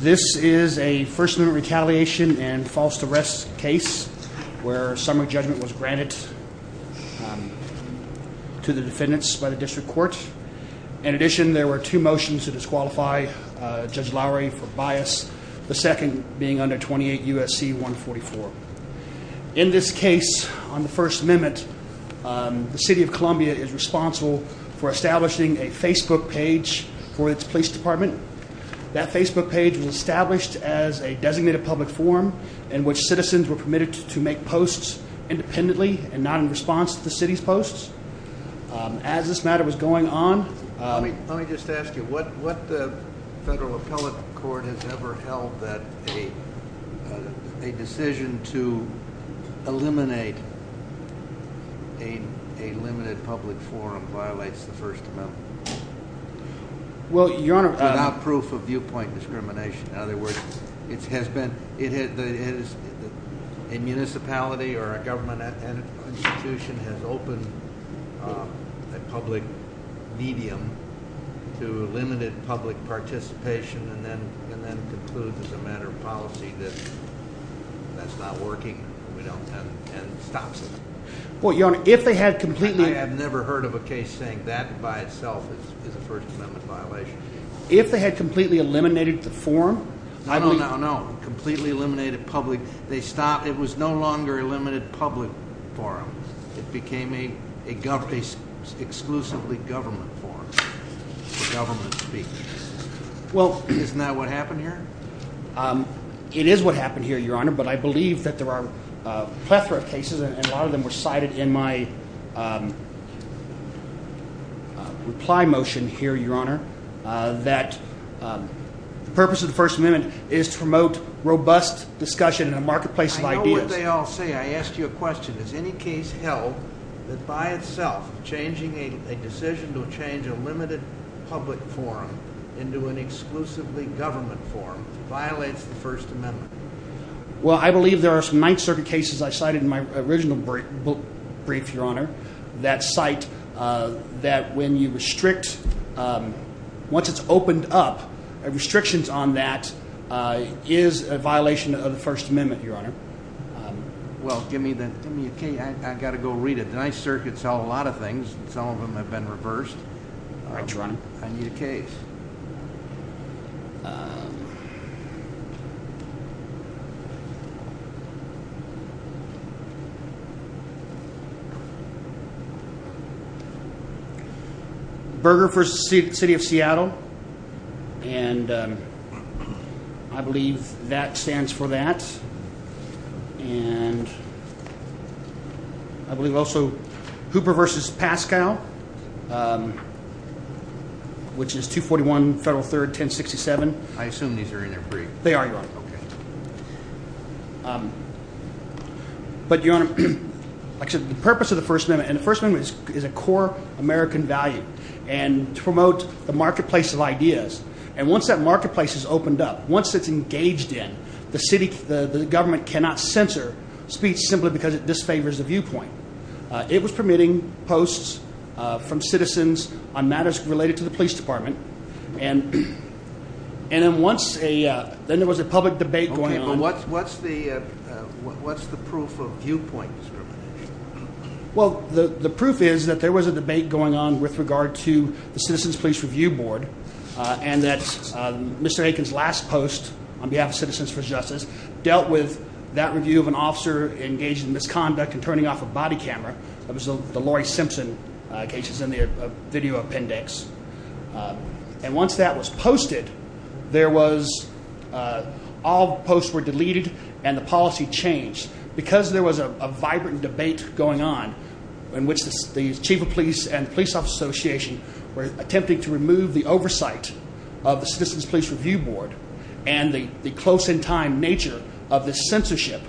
This is a First Amendment retaliation and false arrest case where summary judgment was granted to the defendants by the district court. In addition, there were two motions to disqualify Judge Lowery for bias, the second being under 28 U.S.C. 144. In this case, on the First Amendment, the city of Columbia is responsible for establishing a Facebook page for its police department. That Facebook page was established as a designated public forum in which citizens were permitted to make posts independently and not in response to the city's posts. As this matter was going on… Let me just ask you, what federal appellate court has ever held that a decision to eliminate a limited public forum violates the First Amendment? Without proof of viewpoint discrimination. In other words, a municipality or a government institution has opened a public medium to limited public participation and then concludes as a matter of policy that that's not working and stops it. I have never heard of a case saying that by itself is a First Amendment violation. If they had completely eliminated the forum… No, no, no, no. Completely eliminated public. It was no longer a limited public forum. It became exclusively a government forum for government speaking. Isn't that what happened here? It is what happened here, Your Honor, but I believe that there are a plethora of cases and a lot of them were cited in my reply motion here, Your Honor, that the purpose of the First Amendment is to promote robust discussion in a marketplace of ideas. As they all say, I asked you a question. Is any case held that by itself changing a decision to change a limited public forum into an exclusively government forum violates the First Amendment? Well, I believe there are some Ninth Circuit cases I cited in my original brief, Your Honor, that cite that when you restrict, once it's opened up, restrictions on that is a violation of the First Amendment, Your Honor. Well, give me a case. I've got to go read it. The Ninth Circuit's held a lot of things. Some of them have been reversed. I need a case. Burger versus the City of Seattle. And I believe that stands for that. And I believe also Hooper versus Pascal, which is 241 Federal 30. I assume these are in their brief. They are, Your Honor. Okay. But, Your Honor, like I said, the purpose of the First Amendment and the First Amendment is a core American value and to promote the marketplace of ideas. And once that marketplace is opened up, once it's engaged in, the city, the government cannot censor speech simply because it disfavors the viewpoint. It was permitting posts from citizens on matters related to the police department. And then once a – then there was a public debate going on. Okay. But what's the proof of viewpoint discrimination? Well, the proof is that there was a debate going on with regard to the Citizens Police Review Board and that Mr. Aiken's last post on behalf of Citizens for Justice dealt with that review of an officer engaged in misconduct and turning off a body camera. That was the Laurie Simpson case that's in the video appendix. And once that was posted, there was – all posts were deleted and the policy changed. Because there was a vibrant debate going on in which the Chief of Police and the Police Office Association were attempting to remove the oversight of the Citizens Police Review Board and the close-in-time nature of the censorship,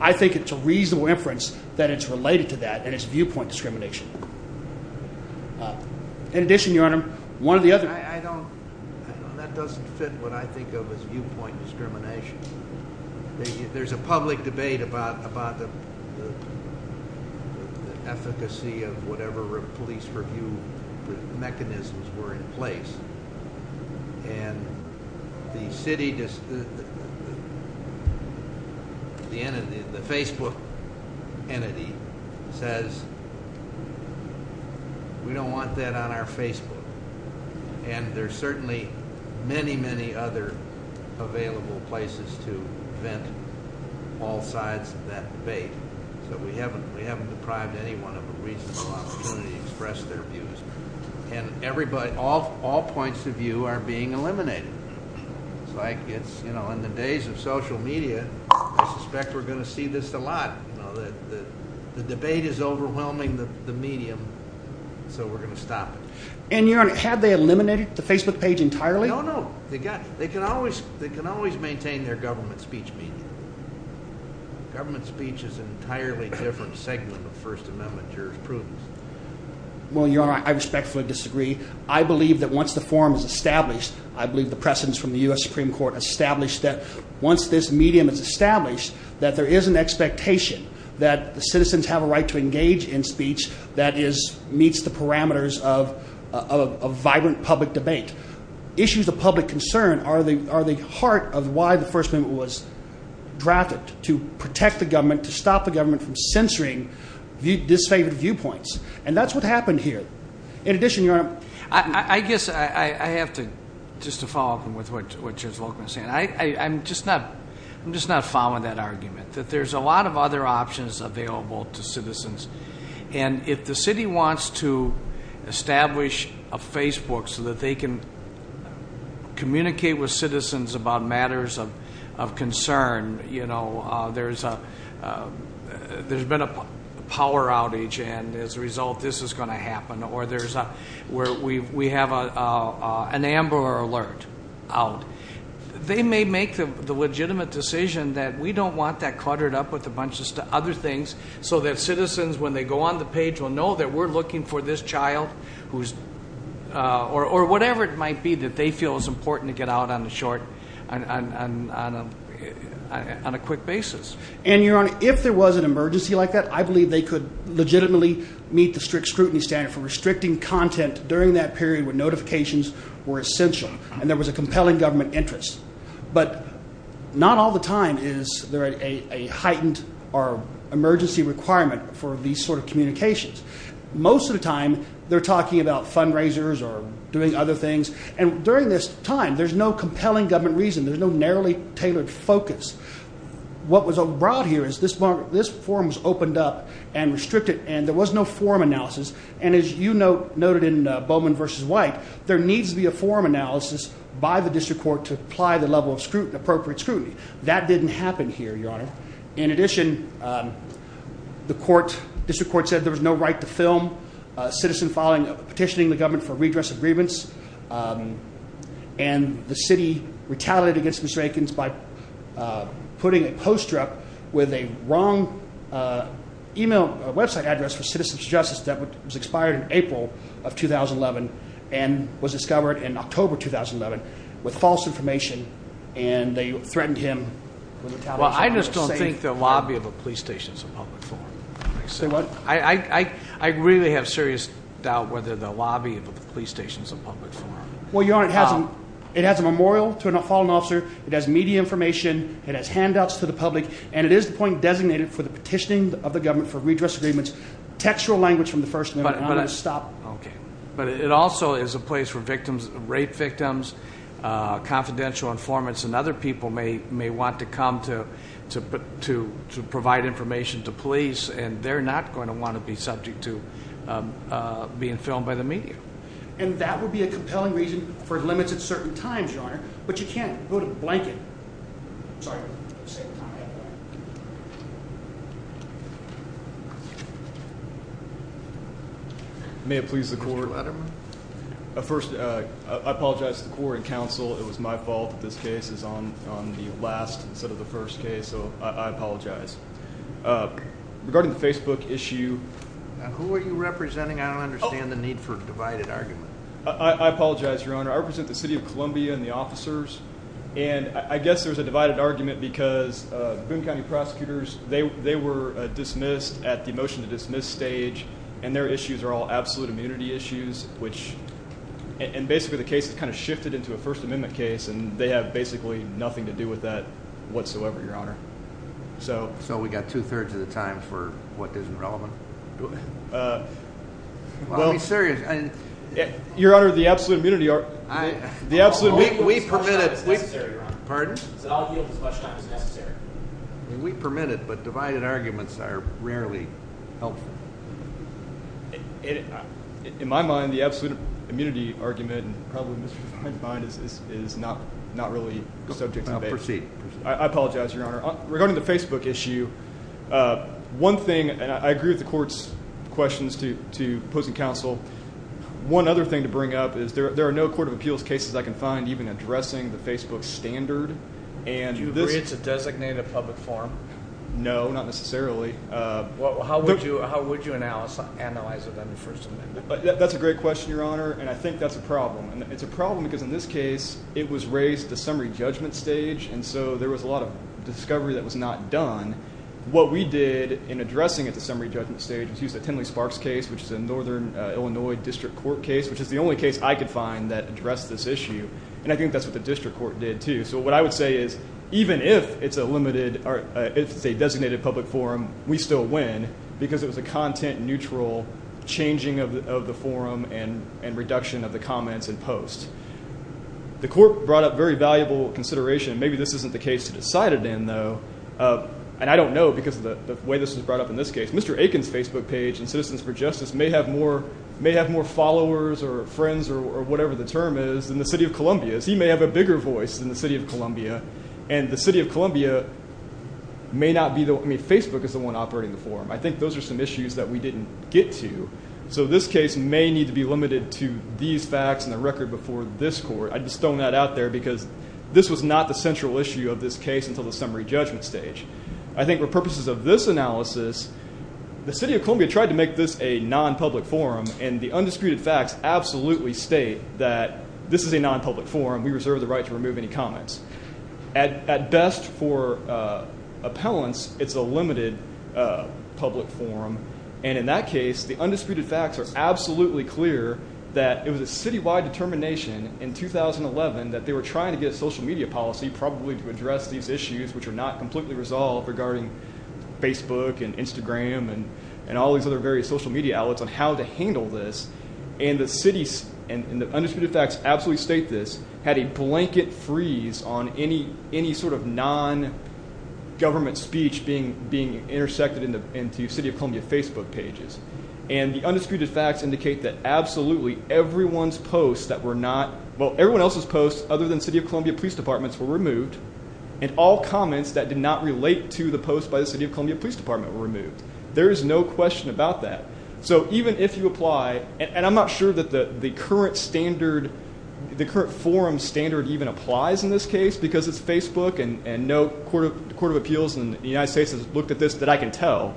I think it's a reasonable inference that it's related to that and it's viewpoint discrimination. In addition, Your Honor, one of the other – I don't – that doesn't fit what I think of as viewpoint discrimination. There's a public debate about the efficacy of whatever police review mechanisms were in place. And the city – the entity – the Facebook entity says we don't want that on our Facebook. And there's certainly many, many other available places to vent all sides of that debate. So we haven't deprived anyone of a reasonable opportunity to express their views. And everybody – all points of view are being eliminated. It's like it's – in the days of social media, I suspect we're going to see this a lot. The debate is overwhelming the medium, so we're going to stop it. And Your Honor, have they eliminated the Facebook page entirely? No, no. They can always maintain their government speech medium. Government speech is an entirely different segment of First Amendment jurisprudence. Well, Your Honor, I respectfully disagree. I believe that once the forum is established, I believe the precedence from the U.S. Supreme Court established that once this medium is established, that there is an expectation that the citizens have a right to engage in speech that meets the parameters of a vibrant public debate. Issues of public concern are the heart of why the First Amendment was drafted, to protect the government, to stop the government from censoring disfavored viewpoints. And that's what happened here. In addition, Your Honor – I guess I have to – just to follow up with what Judge Volkman is saying. I'm just not following that argument, that there's a lot of other options available to citizens. And if the city wants to establish a Facebook so that they can communicate with citizens about matters of concern, there's been a power outage, and as a result, this is going to happen. Or we have an Amber Alert out. They may make the legitimate decision that we don't want that cluttered up with a bunch of other things, so that citizens, when they go on the page, will know that we're looking for this child, or whatever it might be that they feel is important to get out on a short – on a quick basis. And, Your Honor, if there was an emergency like that, I believe they could legitimately meet the strict scrutiny standard for restricting content during that period when notifications were essential. And there was a compelling government interest. But not all the time is there a heightened or emergency requirement for these sort of communications. Most of the time, they're talking about fundraisers or doing other things. And during this time, there's no compelling government reason. There's no narrowly tailored focus. What was brought here is this forum was opened up and restricted, and there was no forum analysis. And as you noted in Bowman v. White, there needs to be a forum analysis by the district court to apply the level of appropriate scrutiny. That didn't happen here, Your Honor. In addition, the district court said there was no right to film a citizen petitioning the government for redress agreements. And the city retaliated against Mr. Eakins by putting a poster up with a wrong email website address for Citizens Justice that was expired in April of 2011 and was discovered in October 2011 with false information, and they threatened him with retaliation. Well, I just don't think the lobby of a police station is a public forum. Say what? I really have serious doubt whether the lobby of a police station is a public forum. Well, Your Honor, it has a memorial to a fallen officer. It has media information. It has handouts to the public, and it is the point designated for the petitioning of the government for redress agreements. Textual language from the first amendment. I'm going to stop. Okay. But it also is a place for victims, rape victims, confidential informants, and other people may want to come to provide information to police, and they're not going to want to be subject to being filmed by the media. And that would be a compelling reason for limits at certain times, Your Honor, but you can't go to blanket. I'm sorry. May it please the court? First, I apologize to the court and counsel. It was my fault that this case is on the last instead of the first case, so I apologize. Regarding the Facebook issue. Who are you representing? I don't understand the need for a divided argument. I apologize, Your Honor. I represent the city of Columbia and the officers, and I guess there's a divided argument because Boone County prosecutors, they were dismissed at the motion to dismiss stage, and their issues are all absolute immunity issues, and basically the case has kind of shifted into a first amendment case, and they have basically nothing to do with that whatsoever, Your Honor. So we've got two-thirds of the time for what isn't relevant? I'll be serious. Your Honor, the absolute immunity argument. The absolute immunity argument. We permit it. Pardon? I'll yield as much time as necessary. We permit it, but divided arguments are rarely helpful. In my mind, the absolute immunity argument, and probably in Mr. Fein's mind, is not really subject to debate. Proceed. I apologize, Your Honor. Regarding the Facebook issue, one thing, and I agree with the court's questions to opposing counsel. One other thing to bring up is there are no court of appeals cases I can find even addressing the Facebook standard. Do you agree it's a designated public forum? No, not necessarily. How would you analyze it under first amendment? That's a great question, Your Honor, and I think that's a problem. It's a problem because in this case, it was raised at the summary judgment stage, and so there was a lot of discovery that was not done. What we did in addressing it at the summary judgment stage was use the Tenley-Sparks case, which is a northern Illinois district court case, which is the only case I could find that addressed this issue, and I think that's what the district court did, too. So what I would say is even if it's a designated public forum, we still win because it was a content-neutral changing of the forum and reduction of the comments and posts. The court brought up very valuable consideration. Maybe this isn't the case to decide it in, though, and I don't know because of the way this was brought up in this case. Mr. Aiken's Facebook page and Citizens for Justice may have more followers or friends or whatever the term is in the city of Columbia. He may have a bigger voice in the city of Columbia, and the city of Columbia may not be the one. I mean, Facebook is the one operating the forum. I think those are some issues that we didn't get to. So this case may need to be limited to these facts and the record before this court. I just thrown that out there because this was not the central issue of this case until the summary judgment stage. I think for purposes of this analysis, the city of Columbia tried to make this a non-public forum, and the undisputed facts absolutely state that this is a non-public forum. We reserve the right to remove any comments. At best for appellants, it's a limited public forum, and in that case, the undisputed facts are absolutely clear that it was a citywide determination in 2011 that they were trying to get a social media policy probably to address these issues which are not completely resolved regarding Facebook and Instagram and all these other various social media outlets on how to handle this. And the undisputed facts absolutely state this, had a blanket freeze on any sort of non-government speech being intersected into city of Columbia Facebook pages. And the undisputed facts indicate that absolutely everyone's posts that were not, well, everyone else's posts other than city of Columbia police departments were removed, and all comments that did not relate to the posts by the city of Columbia police department were removed. There is no question about that. So even if you apply, and I'm not sure that the current forum standard even applies in this case because it's Facebook and no court of appeals in the United States has looked at this that I can tell,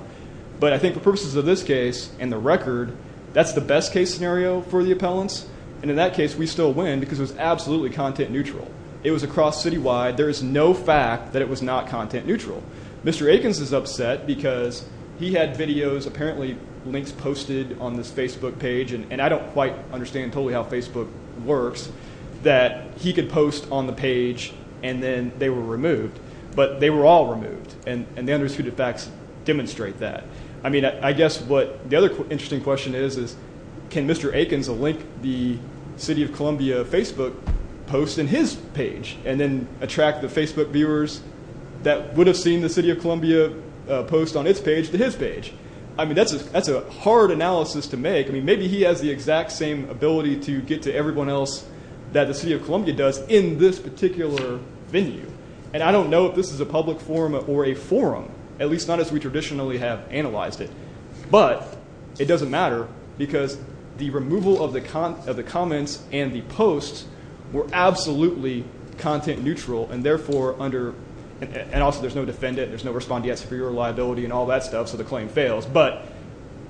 but I think for purposes of this case and the record, that's the best case scenario for the appellants. And in that case, we still win because it was absolutely content neutral. It was across citywide. There is no fact that it was not content neutral. Mr. Akins is upset because he had videos, apparently links posted on this Facebook page, and I don't quite understand totally how Facebook works, that he could post on the page and then they were removed. But they were all removed, and the undisputed facts demonstrate that. I mean, I guess what the other interesting question is, is can Mr. Akins link the city of Columbia Facebook post in his page and then attract the Facebook viewers that would have seen the city of Columbia post on its page to his page? I mean, that's a hard analysis to make. I mean, maybe he has the exact same ability to get to everyone else that the city of Columbia does in this particular venue. And I don't know if this is a public forum or a forum, at least not as we traditionally have analyzed it. But it doesn't matter because the removal of the comments and the posts were absolutely content neutral, and therefore under – and also there's no defendant, there's no respondeat superior liability and all that stuff, so the claim fails. But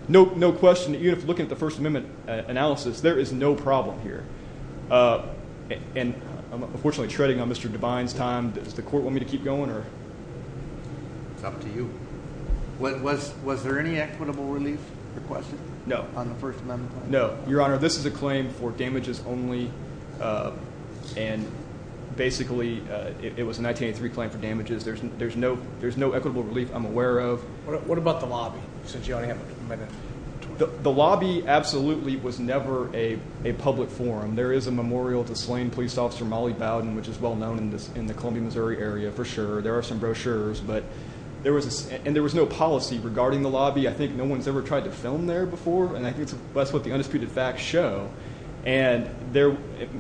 no question, even if you look at the First Amendment analysis, there is no problem here. And I'm unfortunately treading on Mr. Devine's time. Does the court want me to keep going? It's up to you. Was there any equitable relief requested? No. On the First Amendment claim? No. Your Honor, this is a claim for damages only, and basically it was a 1983 claim for damages. There's no equitable relief I'm aware of. What about the lobby, since you only have a minute? The lobby absolutely was never a public forum. There is a memorial to slain police officer Molly Bowden, which is well known in the Columbia, Missouri area for sure. There are some brochures, but there was – and there was no policy regarding the lobby. I think no one's ever tried to film there before, and I think that's what the undisputed facts show. And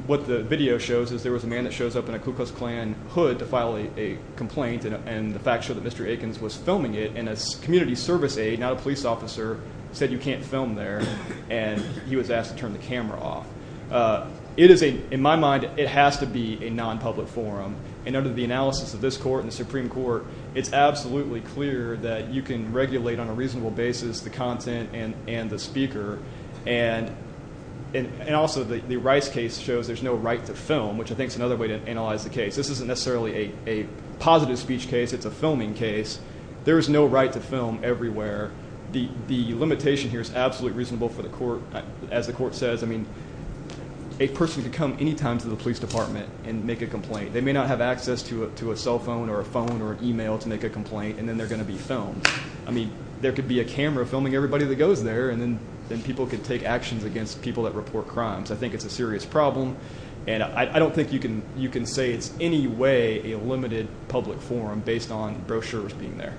what the video shows is there was a man that shows up in a Ku Klux Klan hood to file a complaint, and the facts show that Mr. Akins was filming it, and a community service aide, not a police officer, said you can't film there, and he was asked to turn the camera off. In my mind, it has to be a nonpublic forum, and under the analysis of this court and the Supreme Court, it's absolutely clear that you can regulate on a reasonable basis the content and the speaker, and also the Rice case shows there's no right to film, which I think is another way to analyze the case. This isn't necessarily a positive speech case. It's a filming case. There is no right to film everywhere. The limitation here is absolutely reasonable for the court. As the court says, I mean, a person can come any time to the police department and make a complaint. They may not have access to a cell phone or a phone or an email to make a complaint, and then they're going to be filmed. I mean, there could be a camera filming everybody that goes there, and then people could take actions against people that report crimes. I think it's a serious problem, and I don't think you can say it's any way a limited public forum based on brochures being there.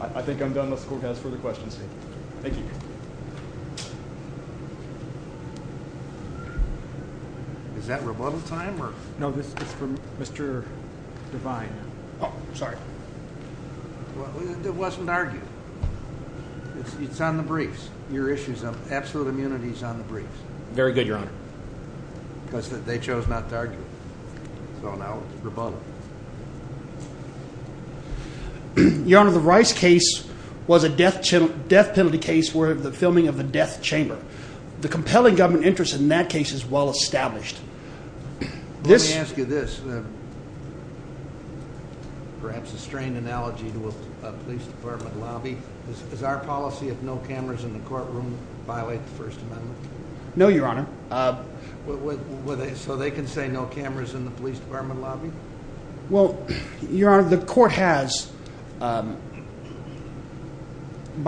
I think I'm done unless the court has further questions. Thank you. Is that rebuttal time? No, this is for Mr. Devine. Oh, sorry. It wasn't argued. It's on the briefs. Your issues of absolute immunity is on the briefs. Very good, Your Honor. Because they chose not to argue, so now it's rebuttal. Your Honor, the Rice case was a death penalty case where the filming of the death chamber. The compelling government interest in that case is well established. Let me ask you this, perhaps a strained analogy to a police department lobby. Does our policy of no cameras in the courtroom violate the First Amendment? No, Your Honor. So they can say no cameras in the police department lobby? Well, Your Honor, the court has, by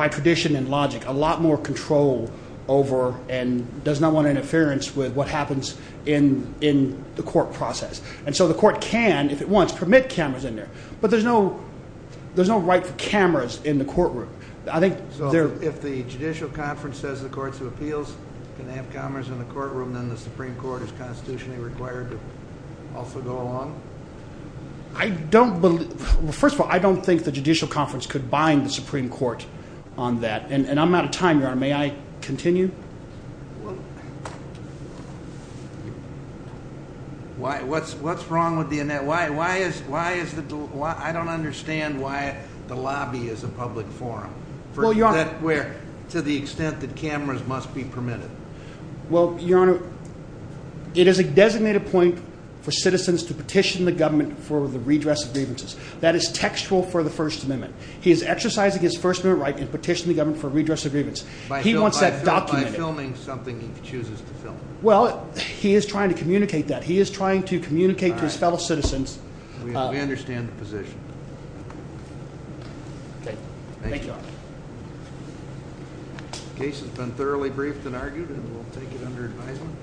tradition and logic, a lot more control over and does not want interference with what happens in the court process. And so the court can, if it wants, permit cameras in there, but there's no right for cameras in the courtroom. So if the Judicial Conference says the Courts of Appeals can have cameras in the courtroom, then the Supreme Court is constitutionally required to also go along? First of all, I don't think the Judicial Conference could bind the Supreme Court on that. And I'm out of time, Your Honor. May I continue? What's wrong with the – I don't understand why the lobby is a public forum to the extent that cameras must be permitted. Well, Your Honor, it is a designated point for citizens to petition the government for the redress agreements. That is textual for the First Amendment. He is exercising his First Amendment right to petition the government for redress agreements. He wants that documented. By filming something he chooses to film. Well, he is trying to communicate that. He is trying to communicate to his fellow citizens. We understand the position. Okay. Thank you, Your Honor. The case has been thoroughly briefed and argued, and we'll take it under advisement.